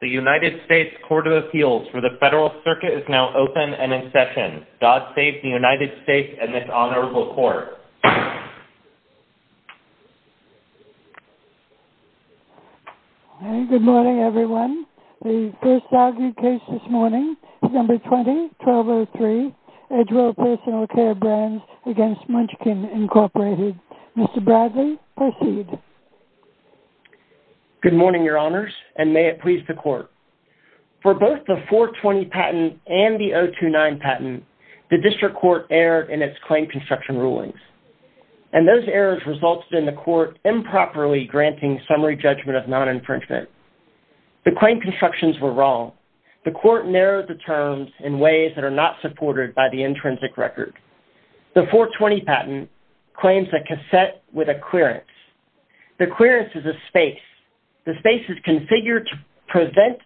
The United States Court of Appeals for the Federal Circuit is now open and in session. God save the United States and this Honorable Court. Good morning everyone. The first argued case this morning, December 20, 1203, Edgewell Personal Care Brands v. Munchkin, Inc. Mr. Bradley, proceed. Good morning, Your Honors, and may it please the Court. For both the 420 patent and the 029 patent, the District Court erred in its claim construction rulings. And those errors resulted in the Court improperly granting summary judgment of non-infringement. The claim constructions were wrong. The Court narrowed the terms in ways that are not supported by the intrinsic record. The 420 patent claims a cassette with a clearance. The clearance is a space. The space is configured to prevent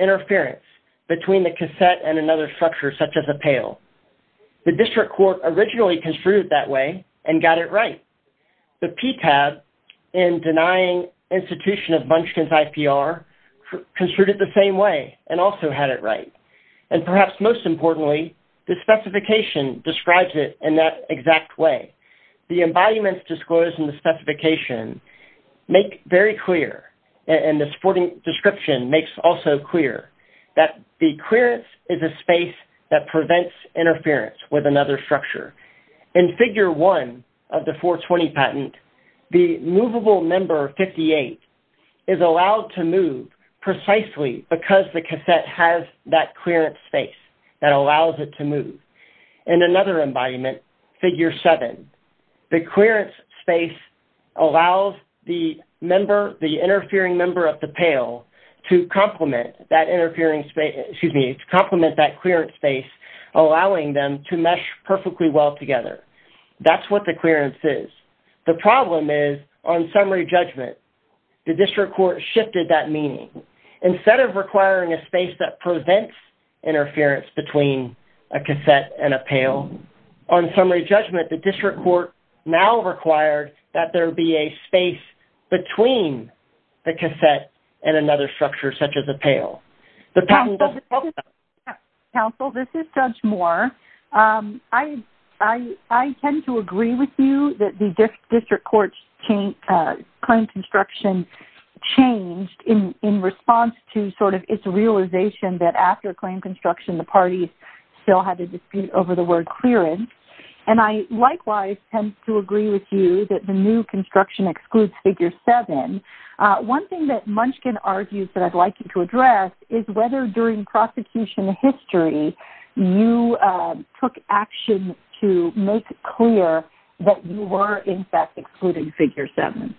interference between the cassette and another structure, such as a pail. The District Court originally construed it that way and got it right. The PTAB, in denying institution of Munchkin's IPR, construed it the same way and also had it right. And perhaps most importantly, the specification describes it in that exact way. The embodiments disclosed in the specification make very clear, and the supporting description makes also clear, that the clearance is a space that prevents interference with another structure. In Figure 1 of the 420 patent, the movable member 58 is allowed to move precisely because the cassette has that clearance space that allows it to move. In another embodiment, Figure 7, the clearance space allows the interfering member of the pail to complement that clearance space, allowing them to mesh perfectly well together. That's what the clearance is. The problem is, on summary judgment, the District Court shifted that meaning. Instead of requiring a space that prevents interference between a cassette and a pail, on summary judgment, the District Court now requires that there be a space between the cassette and another structure, such as a pail. Counsel, this is Judge Moore. I tend to agree with you that the District Court's claim construction changed in response to sort of its realization that after claim construction, the parties still had a dispute over the word clearance. And I likewise tend to agree with you that the new construction excludes Figure 7. One thing that Munchkin argues that I'd like you to address is whether, during prosecution history, you took action to make clear that you were, in fact, excluding Figure 7.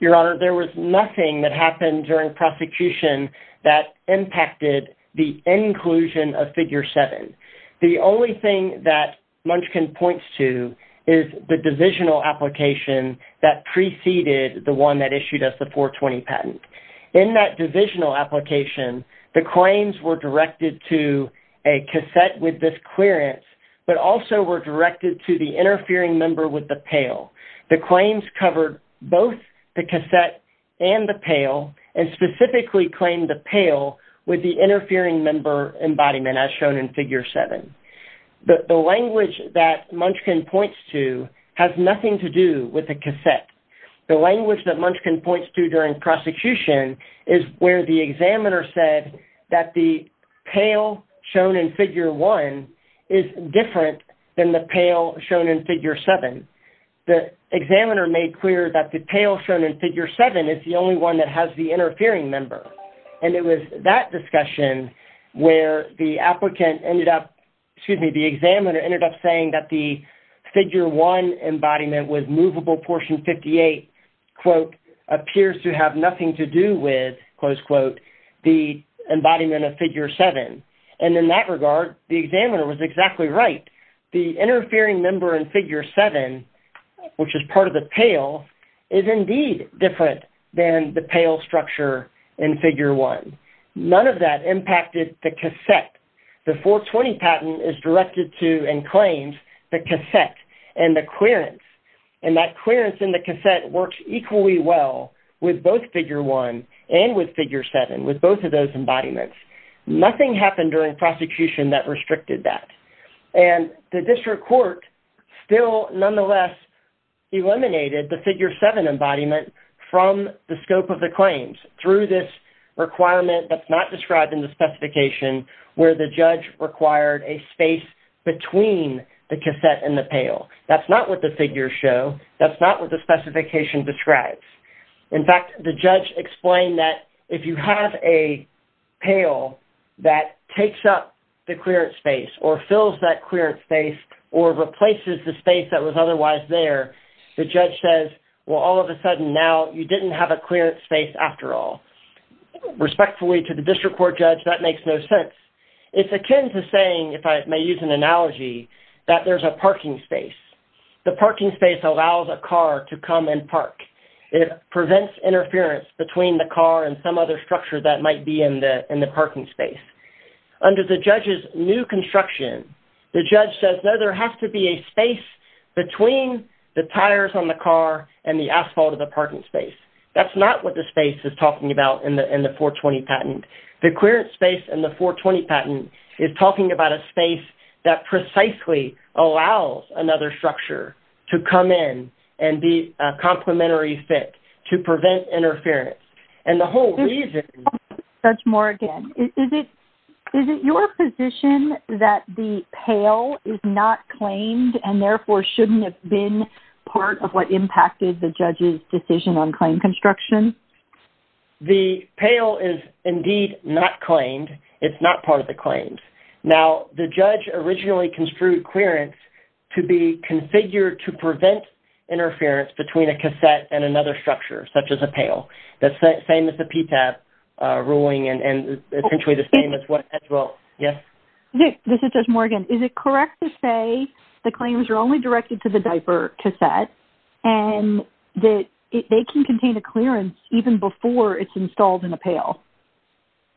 Your Honor, there was nothing that happened during prosecution that impacted the inclusion of Figure 7. The only thing that Munchkin points to is the divisional application that preceded the one that issued us the 420 patent. In that divisional application, the claims were directed to a cassette with this clearance, but also were directed to the interfering member with the pail. The claims covered both the cassette and the pail, and specifically claimed the pail with the interfering member embodiment, as shown in Figure 7. The language that Munchkin points to has nothing to do with the cassette. The language that Munchkin points to during prosecution is where the examiner said that the pail shown in Figure 1 is different than the pail shown in Figure 7. The examiner made clear that the pail shown in Figure 7 is the only one that has the interfering member. It was that discussion where the examiner ended up saying that the Figure 1 embodiment with movable portion 58, quote, appears to have nothing to do with, close quote, the embodiment of Figure 7. In that regard, the examiner was exactly right. The interfering member in Figure 7, which is part of the pail, is indeed different than the pail structure in Figure 1. None of that impacted the cassette. The 420 patent is directed to and claims the cassette and the clearance. That clearance in the cassette works equally well with both Figure 1 and with Figure 7, with both of those embodiments. Nothing happened during prosecution that restricted that. And the district court still nonetheless eliminated the Figure 7 embodiment from the scope of the claims through this requirement that's not described in the specification where the judge required a space between the cassette and the pail. That's not what the figures show. That's not what the specification describes. In fact, the judge explained that if you have a pail that takes up the clearance space or fills that clearance space or replaces the space that was otherwise there, the judge says, well, all of a sudden now you didn't have a clearance space after all. Respectfully to the district court judge, that makes no sense. It's akin to saying, if I may use an analogy, that there's a parking space. The parking space allows a car to come and park. It prevents interference between the car and some other structure that might be in the parking space. Under the judge's new construction, the judge says, no, there has to be a space between the tires on the car and the asphalt of the parking space. That's not what the space is talking about in the 420 patent. The clearance space in the 420 patent is talking about a space that precisely allows another structure to come in and be a complementary fit to prevent interference. And the whole reason... That's more again. Is it your position that the pail is not claimed and therefore shouldn't have been part of what impacted the judge's decision on claim construction? The pail is indeed not claimed. It's not part of the claims. Now, the judge originally construed clearance to be configured to prevent interference between a cassette and another structure, such as a pail. That's the same as the PTAB ruling and essentially the same as what Ed wrote. Yes? This is Jess Morgan. Is it correct to say the claims are only directed to the diaper cassette and that they can contain a clearance even before it's installed in a pail?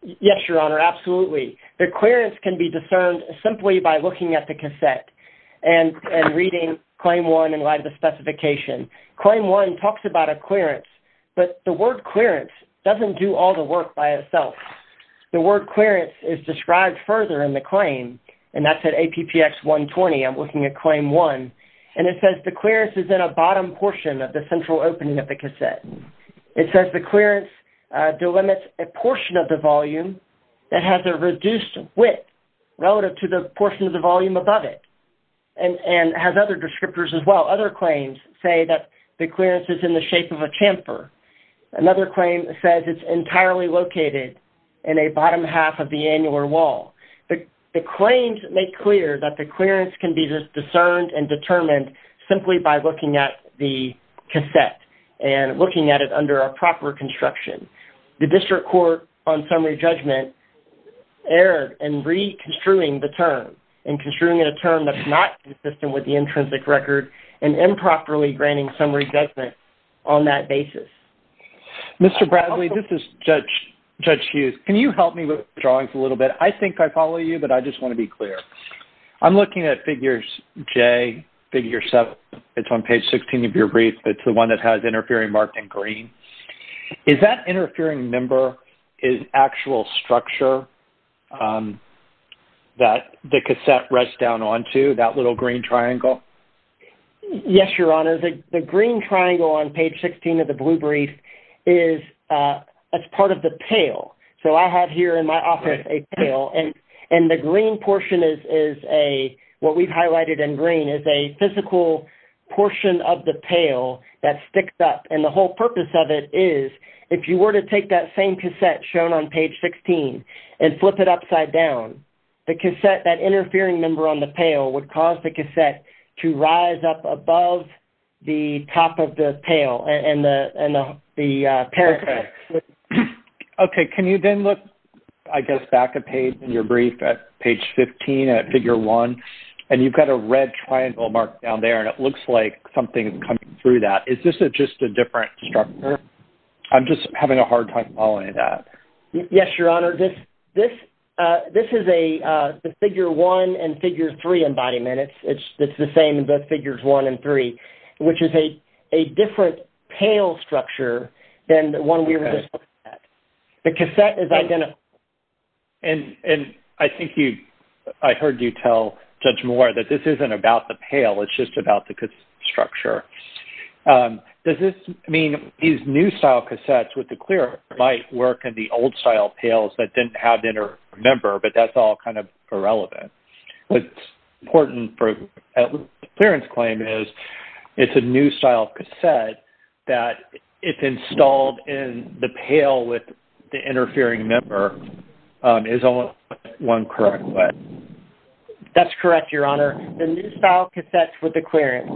Yes, Your Honor. Absolutely. The clearance can be discerned simply by looking at the cassette and reading Claim 1 in light of the specification. Claim 1 talks about a clearance, but the word clearance doesn't do all the work by itself. The word clearance is described further in the claim, and that's at APPX 120. I'm looking at Claim 1, and it says the clearance is in a bottom portion of the central opening of the cassette. It says the clearance delimits a portion of the volume that has a reduced width relative to the portion of the volume above it and has other descriptors as well. Other claims say that the clearance is in the shape of a chamfer. Another claim says it's entirely located in a bottom half of the annular wall. The claims make clear that the clearance can be discerned and determined simply by looking at the cassette and looking at it under a proper construction. The District Court on Summary Judgment erred in reconstruing the term and construing it a term that's not consistent with the intrinsic record and improperly granting summary judgment on that basis. Mr. Bradley, this is Judge Hughes. Can you help me with the drawings a little bit? I think I follow you, but I just want to be clear. I'm looking at figures J, figure 7. It's on page 16 of your brief. It's the one that has interfering marked in green. Is that interfering number an actual structure that the cassette rests down onto, that little green triangle? Yes, Your Honor. The green triangle on page 16 of the blue brief is part of the pail. I have here in my office a pail. The green portion is what we've highlighted in green. It's a physical portion of the pail that sticks up. The whole purpose of it is if you were to take that same cassette shown on page 16 and flip it upside down, that interfering number on the pail would cause the cassette to rise up above the top of the pail and the parapet. Okay. Can you then look, I guess, back at your brief at page 15 at figure 1? You've got a red triangle marked down there, and it looks like something is coming through that. Is this just a different structure? I'm just having a hard time following that. Yes, Your Honor. This is the figure 1 and figure 3 embodiment. It's the same in both figures 1 and 3, which is a different pail structure than the one we were just looking at. The cassette is identical. I think I heard you tell Judge Moore that this isn't about the pail. It's just about the structure. Does this mean these new-style cassettes with the clear might work, and the old-style pails that didn't have the inter-member, but that's all kind of irrelevant? What's important for the clearance claim is it's a new-style cassette that, if installed in the pail with the interfering member, is almost one correct way. That's correct, Your Honor. The new-style cassettes with the clearance,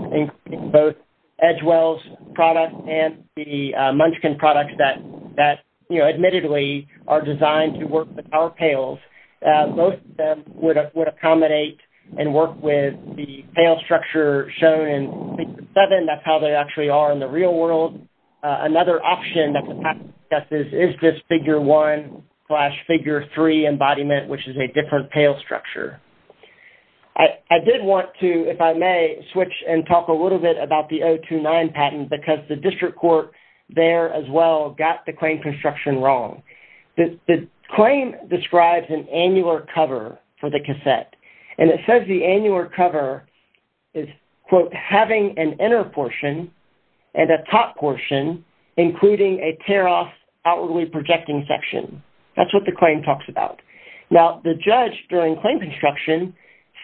including both Edgewell's products and the Munchkin products that, admittedly, are designed to work with our pails, both of them would accommodate and work with the pail structure shown in piece 7. That's how they actually are in the real world. Another option that the patent discusses is just figure 1 slash figure 3 embodiment, which is a different pail structure. I did want to, if I may, switch and talk a little bit about the 029 patent because the district court there as well got the claim construction wrong. The claim describes an annular cover for the cassette, and it says the annular cover is, quote, having an inner portion and a top portion, including a tear-off outwardly projecting section. That's what the claim talks about. Now, the judge during claim construction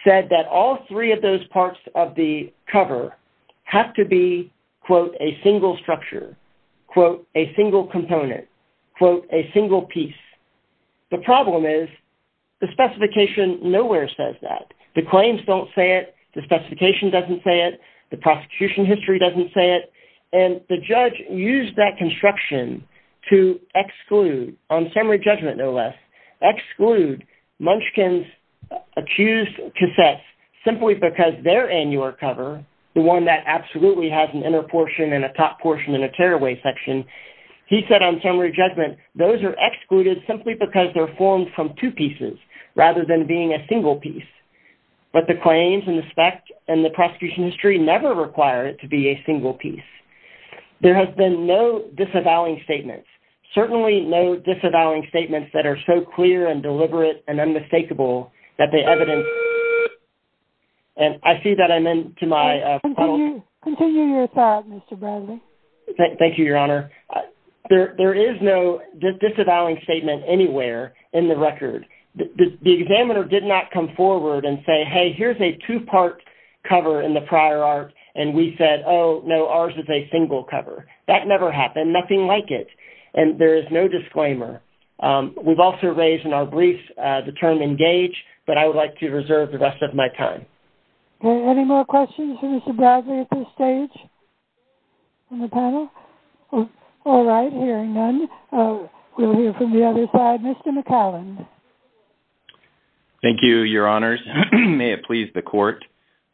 said that all three of those parts of the cover have to be, quote, a single structure, quote, a single component, quote, a single piece. The problem is the specification nowhere says that. The claims don't say it. The specification doesn't say it. The prosecution history doesn't say it. And the judge used that construction to exclude, on summary judgment, no less, exclude Munchkin's accused cassettes simply because their annular cover, the one that absolutely has an inner portion and a top portion and a tear-away section, he said on summary judgment those are excluded simply because they're formed from two pieces rather than being a single piece. But the claims and the spec and the prosecution history never require it to be a single piece. There have been no disavowing statements, certainly no disavowing statements that are so clear and deliberate and unmistakable and I see that I'm into my phone. Continue your thought, Mr. Bradley. Thank you, Your Honor. There is no disavowing statement anywhere in the record. The examiner did not come forward and say, hey, here's a two-part cover in the prior art, and we said, oh, no, ours is a single cover. That never happened, nothing like it, and there is no disclaimer. We've also raised in our brief the term engage, but I would like to reserve the rest of my time. Any more questions for Mr. Bradley at this stage from the panel? All right, hearing none, we'll hear from the other side. Mr. McAllen. Thank you, Your Honors. May it please the Court.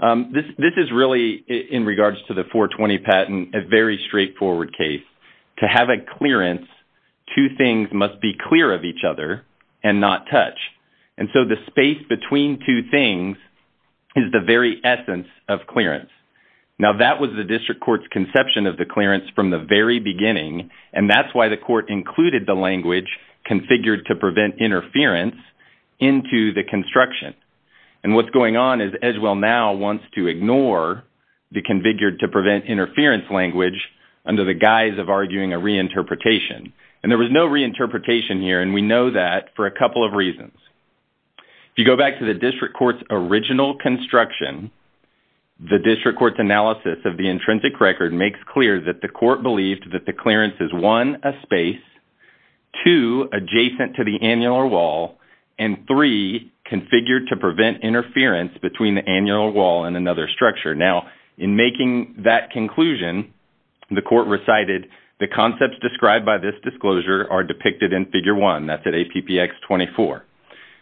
This is really, in regards to the 420 patent, a very straightforward case. To have a clearance, two things must be clear of each other and not touch, and so the space between two things is the very essence of clearance. Now, that was the district court's conception of the clearance from the very beginning, and that's why the court included the language, configured to prevent interference, into the construction, and what's going on is Edgewell now wants to ignore the And there was no reinterpretation here, and we know that for a couple of reasons. If you go back to the district court's original construction, the district court's analysis of the intrinsic record makes clear that the court believed that the clearance is, one, a space, two, adjacent to the annular wall, and three, configured to prevent interference between the annular wall and another structure. Now, in making that conclusion, the court recited, the concepts described by this disclosure are depicted in Figure 1. That's at APPX 24.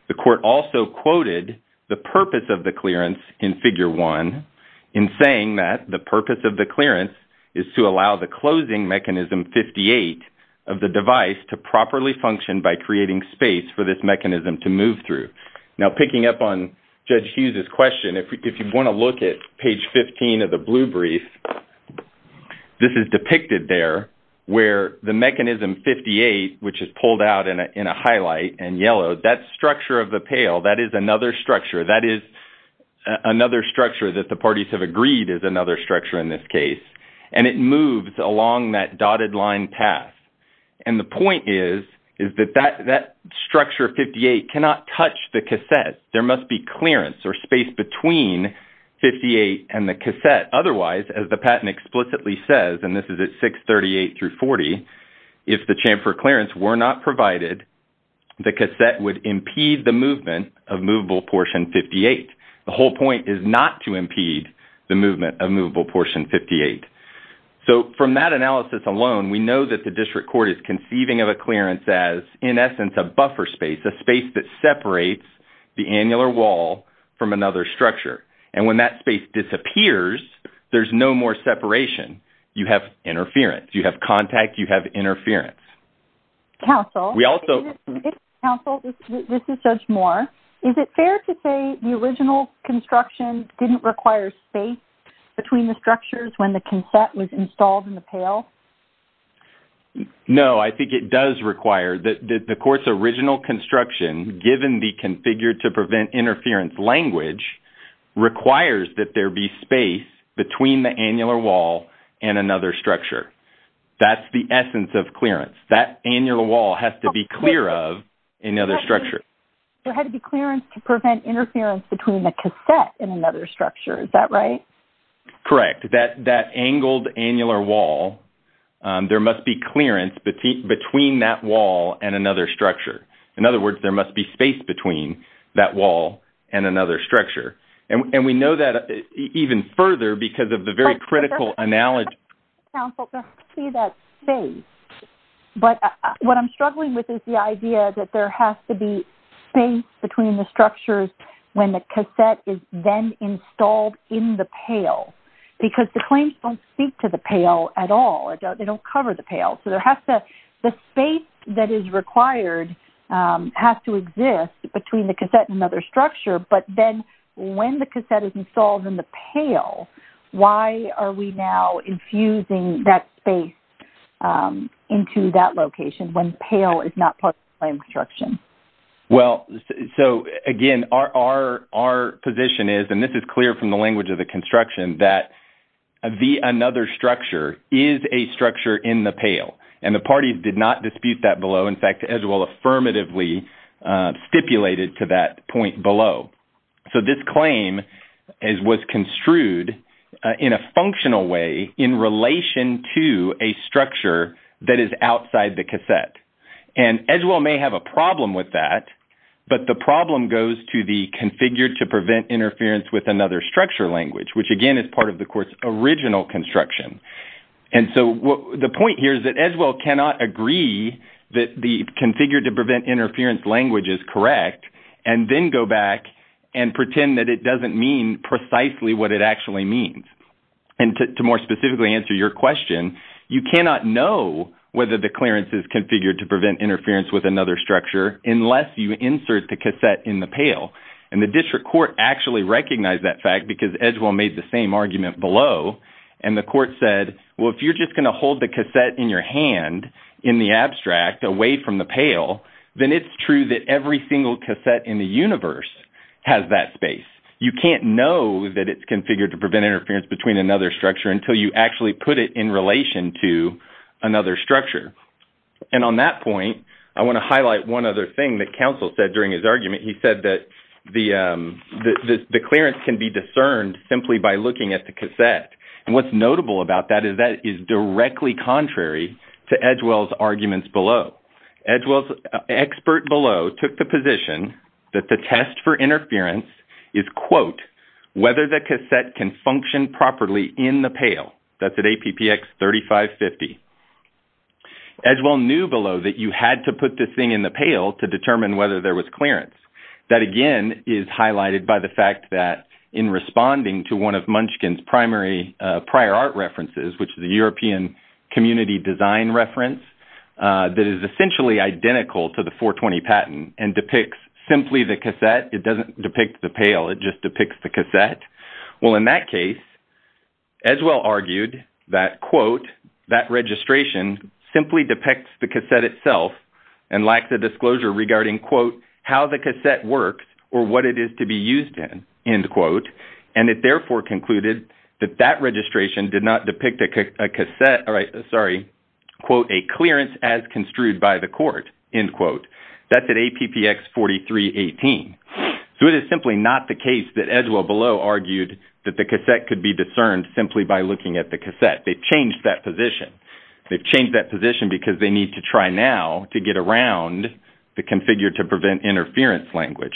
The court also quoted the purpose of the clearance in Figure 1 in saying that the purpose of the clearance is to allow the closing mechanism 58 of the device to properly function by creating space for this mechanism to move through. Now, picking up on Judge Hughes's question, if you want to look at page 15 of the blue brief, this is depicted there where the mechanism 58, which is pulled out in a highlight in yellow, that structure of the pale, that is another structure. That is another structure that the parties have agreed is another structure in this case, and it moves along that dotted line path, and the point is that that structure 58 cannot touch the cassette. There must be clearance or space between 58 and the cassette. Otherwise, as the patent explicitly says, and this is at 638 through 40, if the chamfer clearance were not provided, the cassette would impede the movement of movable portion 58. The whole point is not to impede the movement of movable portion 58. So from that analysis alone, we know that the district court is conceiving of a clearance as, in essence, a buffer space, a space that separates the annular wall from another structure, and when that space disappears, there's no more separation. You have interference. You have contact. You have interference. Counsel, this is Judge Moore. Is it fair to say the original construction didn't require space between the structures when the cassette was installed in the pale? No, I think it does require. The court's original construction, given the configured-to-prevent-interference language, requires that there be space between the annular wall and another structure. That's the essence of clearance. That annular wall has to be clear of another structure. There had to be clearance to prevent interference between the cassette and another structure. Is that right? Correct. That angled annular wall, there must be clearance between that wall and another structure. In other words, there must be space between that wall and another structure. And we know that even further because of the very critical analogy. Counsel, there has to be that space. But what I'm struggling with is the idea that there has to be space between the structures when the cassette is then installed in the pale because the claims don't speak to the pale at all. They don't cover the pale. So the space that is required has to exist between the cassette and another structure, but then when the cassette is installed in the pale, why are we now infusing that space into that location when pale is not part of the claim construction? Well, so, again, our position is, and this is clear from the language of the construction, that another structure is a structure in the pale. And the parties did not dispute that below. In fact, Edgewell affirmatively stipulated to that point below. So this claim was construed in a functional way in relation to a structure that is outside the cassette. And Edgewell may have a problem with that, but the problem goes to the configure to prevent interference with another structure language, which, again, is part of the court's original construction. And so the point here is that Edgewell cannot agree that the configure to prevent interference language is correct and then go back and pretend that it doesn't mean precisely what it actually means. And to more specifically answer your question, you cannot know whether the clearance is configured to prevent interference with another structure unless you insert the cassette in the pale. And the district court actually recognized that fact because Edgewell made the same argument below, and the court said, well, if you're just going to hold the cassette in your hand in the abstract away from the pale, then it's true that every single cassette in the universe has that space. You can't know that it's configured to prevent interference between another structure until you actually put it in relation to another structure. And on that point, I want to highlight one other thing that counsel said during his argument. He said that the clearance can be discerned simply by looking at the cassette. And what's notable about that is that is directly contrary to Edgewell's arguments below. Edgewell's expert below took the position that the test for interference is, quote, whether the cassette can function properly in the pale. That's at APPX 3550. Edgewell knew below that you had to put this thing in the pale to determine whether there was clearance. That, again, is highlighted by the fact that in responding to one of Munchkin's primary prior art references, which is a European community design reference that is essentially identical to the 420 patent and depicts simply the cassette. It doesn't depict the pale. It just depicts the cassette. Well, in that case, Edgewell argued that, quote, that registration simply depicts the cassette itself and lacks a disclosure regarding, quote, how the cassette works or what it is to be used in, end quote, and it therefore concluded that that registration did not depict a cassette, sorry, quote, a clearance as construed by the court, end quote. That's at APPX 4318. So it is simply not the case that Edgewell below argued that the cassette could be discerned simply by looking at the cassette. They've changed that position. They've changed that position because they need to try now to get around the configure to prevent interference language.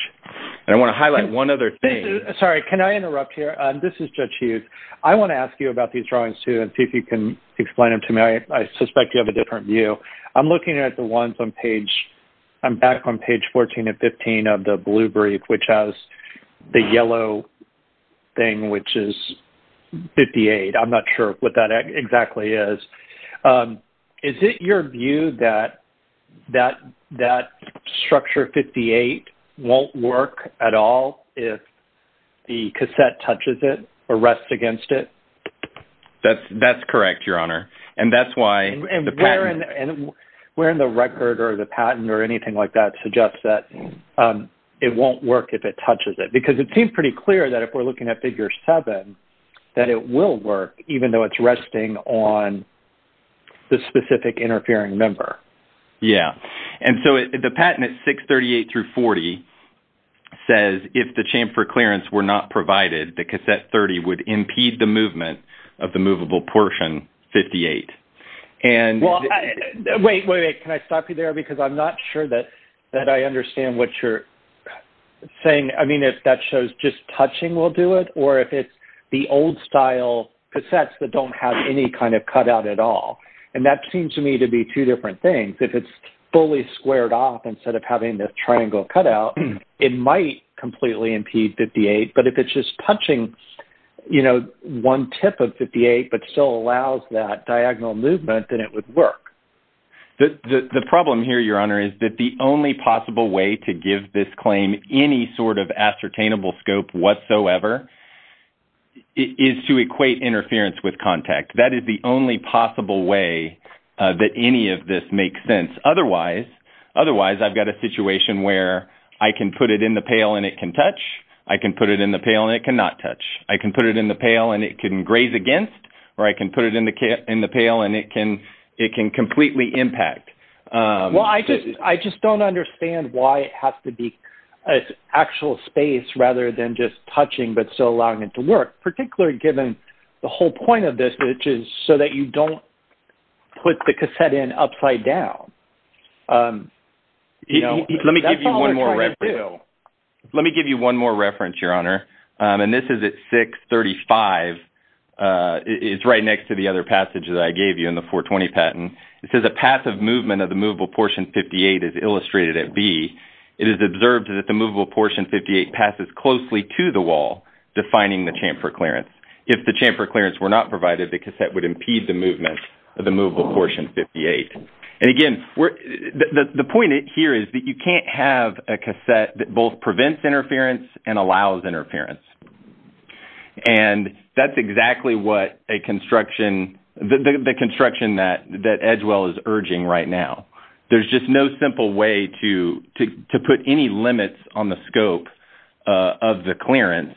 And I want to highlight one other thing. Sorry. Can I interrupt here? This is Judge Hughes. I want to ask you about these drawings, too, and see if you can explain them to me. I suspect you have a different view. So I'm looking at the ones on page 14 and 15 of the blue brief, which has the yellow thing, which is 58. I'm not sure what that exactly is. Is it your view that that structure 58 won't work at all if the cassette touches it or rests against it? That's correct, Your Honor. And where in the record or the patent or anything like that suggests that it won't work if it touches it? Because it seems pretty clear that if we're looking at Figure 7 that it will work even though it's resting on the specific interfering member. Yeah. And so the patent at 638-40 says if the chamfer clearance were not provided, the cassette 30 would impede the movement of the movable portion 58. Well, wait, wait, wait. Can I stop you there? Because I'm not sure that I understand what you're saying. I mean, if that shows just touching will do it, or if it's the old-style cassettes that don't have any kind of cutout at all. And that seems to me to be two different things. If it's fully squared off instead of having this triangle cutout, it might completely impede 58. But if it's just punching, you know, one tip of 58 but still allows that diagonal movement, then it would work. The problem here, Your Honor, is that the only possible way to give this claim any sort of ascertainable scope whatsoever is to equate interference with contact. That is the only possible way that any of this makes sense. Otherwise, I've got a situation where I can put it in the pail and it can touch. I can put it in the pail and it cannot touch. I can put it in the pail and it can graze against, or I can put it in the pail and it can completely impact. Well, I just don't understand why it has to be actual space rather than just touching but still allowing it to work, particularly given the whole point of this, which is so that you don't put the cassette in upside down. Let me give you one more reference, Your Honor. And this is at 635. It's right next to the other passage that I gave you in the 420 patent. It says a passive movement of the movable portion 58 is illustrated at B. It is observed that the movable portion 58 passes closely to the wall, defining the chamfer clearance. If the chamfer clearance were not provided, the cassette would impede the movement of the movable portion 58. And, again, the point here is that you can't have a cassette that both prevents interference and allows interference. And that's exactly what a construction, the construction that Edgewell is urging right now. There's just no simple way to put any limits on the scope of the clearance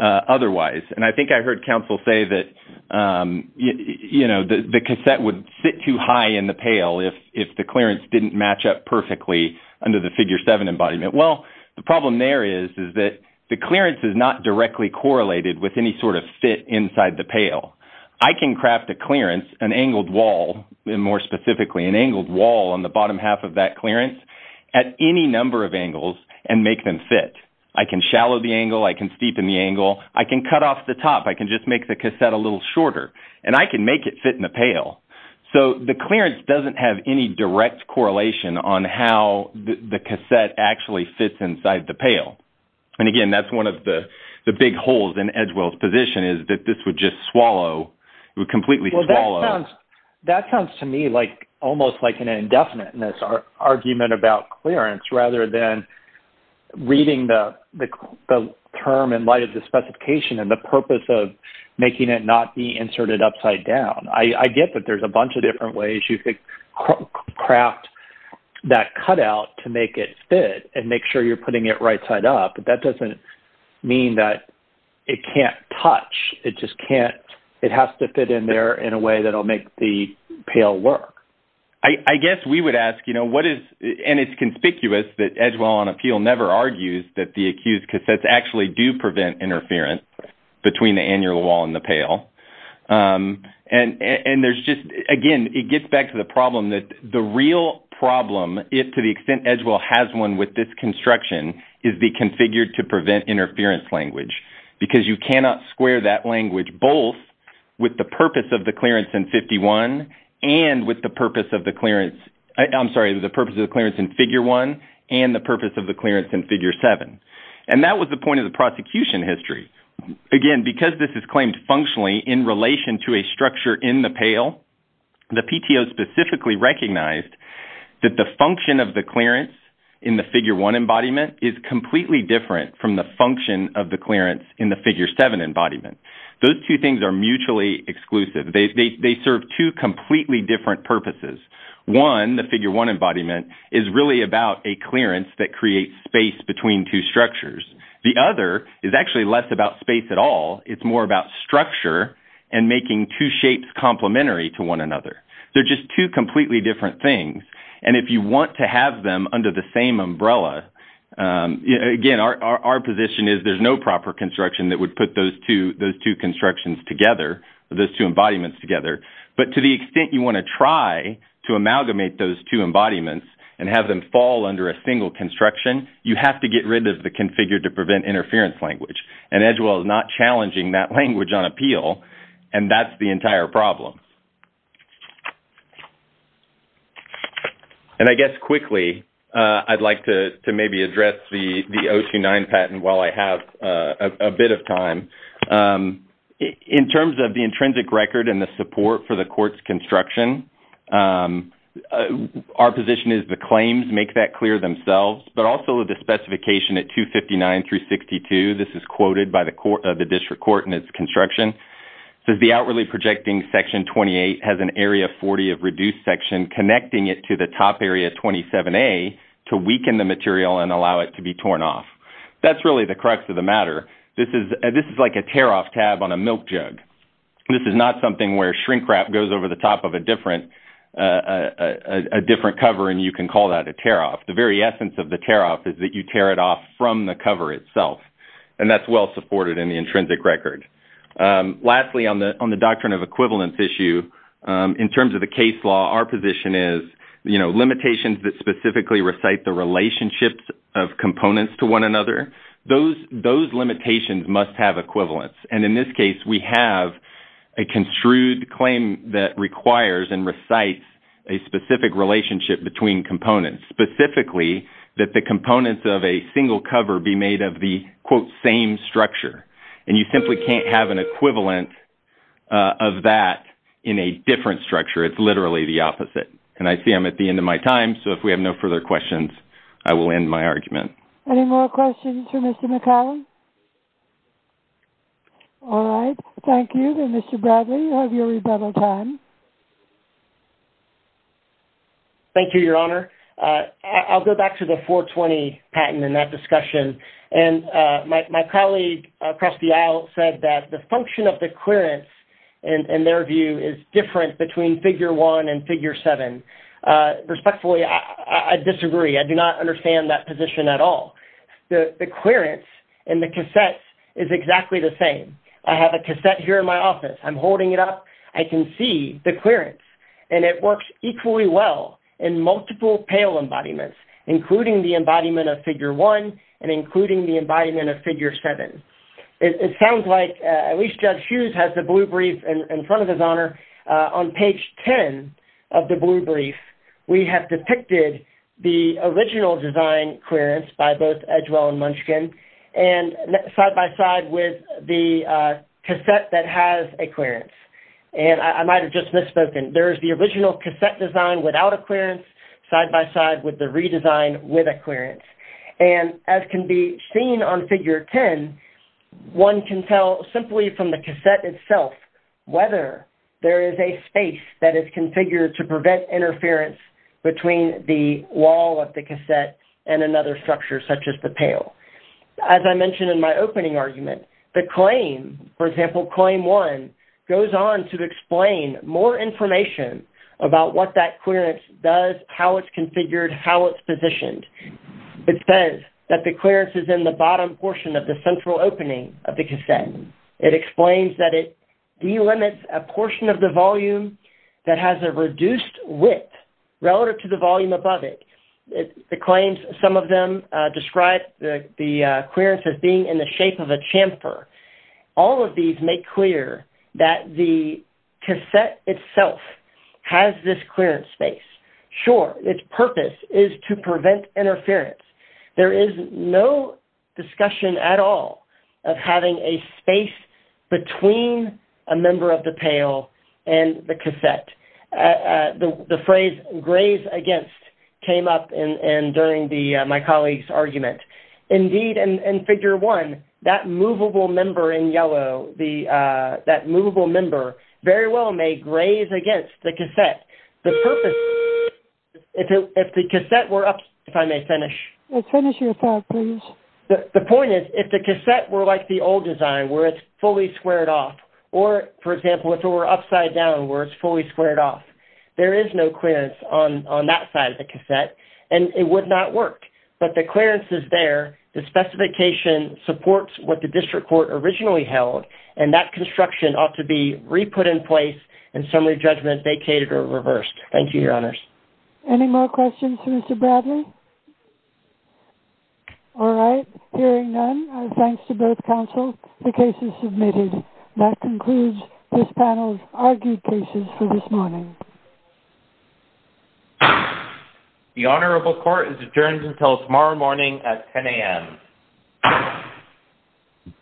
otherwise. And I think I heard counsel say that, you know, the cassette would sit too high in the pail if the clearance didn't match up perfectly under the Figure 7 embodiment. Well, the problem there is that the clearance is not directly correlated with any sort of fit inside the pail. I can craft a clearance, an angled wall, and more specifically an angled wall on the bottom half of that clearance at any number of angles and make them fit. I can shallow the angle. I can steepen the angle. I can cut off the top. I can just make the cassette a little shorter. And I can make it fit in the pail. So the clearance doesn't have any direct correlation on how the cassette actually fits inside the pail. And again, that's one of the big holes in Edgewell's position is that this would just swallow. It would completely swallow. Well, that sounds to me like almost like an indefiniteness argument about clearance rather than reading the term in light of the specification and the purpose of making it not be inserted upside down. I get that there's a bunch of different ways you could craft that cutout to make it fit and make sure you're putting it right side up. But that doesn't mean that it can't touch. It just can't. It has to fit in there in a way that will make the pail work. I guess we would ask, you know, what is – and it's conspicuous that Edgewell on appeal never argues that the accused cassettes actually do prevent interference between the angled wall and the pail. And there's just – again, it gets back to the problem that the real problem, if to the extent Edgewell has one with this construction, is the configured to prevent interference language. Because you cannot square that language both with the purpose of the clearance in 51 and with the purpose of the clearance – I'm sorry, the purpose of the clearance in Figure 1 and the purpose of the clearance in Figure 7. And that was the point of the prosecution history. Again, because this is claimed functionally in relation to a structure in the pail, the PTO specifically recognized that the function of the clearance in the Figure 1 embodiment is completely different from the function of the clearance in the Figure 7 embodiment. Those two things are mutually exclusive. They serve two completely different purposes. One, the Figure 1 embodiment, is really about a clearance that creates space between two structures. The other is actually less about space at all. It's more about structure and making two shapes complementary to one another. They're just two completely different things. And if you want to have them under the same umbrella – again, our position is there's no proper construction that would put those two constructions together, those two embodiments together. But to the extent you want to try to amalgamate those two embodiments and have them fall under a single construction, you have to get rid of the configure to prevent interference language. And Edgewell is not challenging that language on appeal, and that's the entire problem. And I guess quickly, I'd like to maybe address the 029 patent while I have a bit of time. In terms of the intrinsic record and the support for the court's construction, our position is the claims make that clear themselves. But also the specification at 259 through 62 – this is quoted by the district court in its construction – says the outwardly projecting Section 28 has an Area 40 of reduced section connecting it to the top Area 27A to weaken the material and allow it to be torn off. That's really the crux of the matter. This is like a tear-off tab on a milk jug. This is not something where shrink wrap goes over the top of a different cover and you can call that a tear-off. The very essence of the tear-off is that you tear it off from the cover itself, and that's well supported in the intrinsic record. Lastly, on the doctrine of equivalence issue, in terms of the case law, our position is limitations that specifically recite the relationships of components to one another, those limitations must have equivalence. And in this case, we have a construed claim that requires and recites a specific relationship between components, specifically that the components of a single cover be made of the, quote, same structure. And you simply can't have an equivalent of that in a different structure. It's literally the opposite. And I see I'm at the end of my time, so if we have no further questions, I will end my argument. Any more questions for Mr. McCallum? All right. Thank you. And Mr. Bradley, you have your rebuttal time. Thank you, Your Honor. I'll go back to the 420 patent and that discussion. And my colleague across the aisle said that the function of the clearance, in their view, is different between Figure 1 and Figure 7. Respectfully, I disagree. I do not understand that position at all. The clearance in the cassettes is exactly the same. I have a cassette here in my office. I can see the clearance. And it works equally well in multiple pale embodiments, including the embodiment of Figure 1 and including the embodiment of Figure 7. It sounds like at least Judge Hughes has the blue brief in front of his honor. On page 10 of the blue brief, we have depicted the original design clearance by both Edgewell and Munchkin, and side-by-side with the cassette that has a clearance. And I might have just misspoken. There is the original cassette design without a clearance, side-by-side with the redesign with a clearance. And as can be seen on Figure 10, one can tell simply from the cassette itself whether there is a space that is configured to prevent interference between the wall of the cassette and another structure, such as the pale. As I mentioned in my opening argument, the claim, for example, Claim 1, goes on to explain more information about what that clearance does, how it's configured, how it's positioned. It says that the clearance is in the bottom portion of the central opening of the cassette. It explains that it delimits a portion of the volume that has a reduced width relative to the volume above it. The claims, some of them describe the clearance as being in the shape of a chamfer. All of these make clear that the cassette itself has this clearance space. Sure, its purpose is to prevent interference. There is no discussion at all of having a space between a member of the pale and the cassette. The phrase, graze against, came up during my colleague's argument. Indeed, in Figure 1, that movable member in yellow, that movable member, very well may graze against the cassette. The purpose, if the cassette were, if I may finish. Finish your thought, please. The point is, if the cassette were like the old design, where it's fully squared off, or, for example, if it were upside down, where it's fully squared off, there is no clearance on that side of the cassette, and it would not work. But the clearance is there. The specification supports what the district court originally held, and that construction ought to be re-put in place and summary judgment vacated or reversed. Thank you, Your Honors. Any more questions for Mr. Bradley? All right, hearing none, thanks to both counsel, the case is submitted. That concludes this panel's argued cases for this morning. The Honorable Court is adjourned until tomorrow morning at 10 a.m.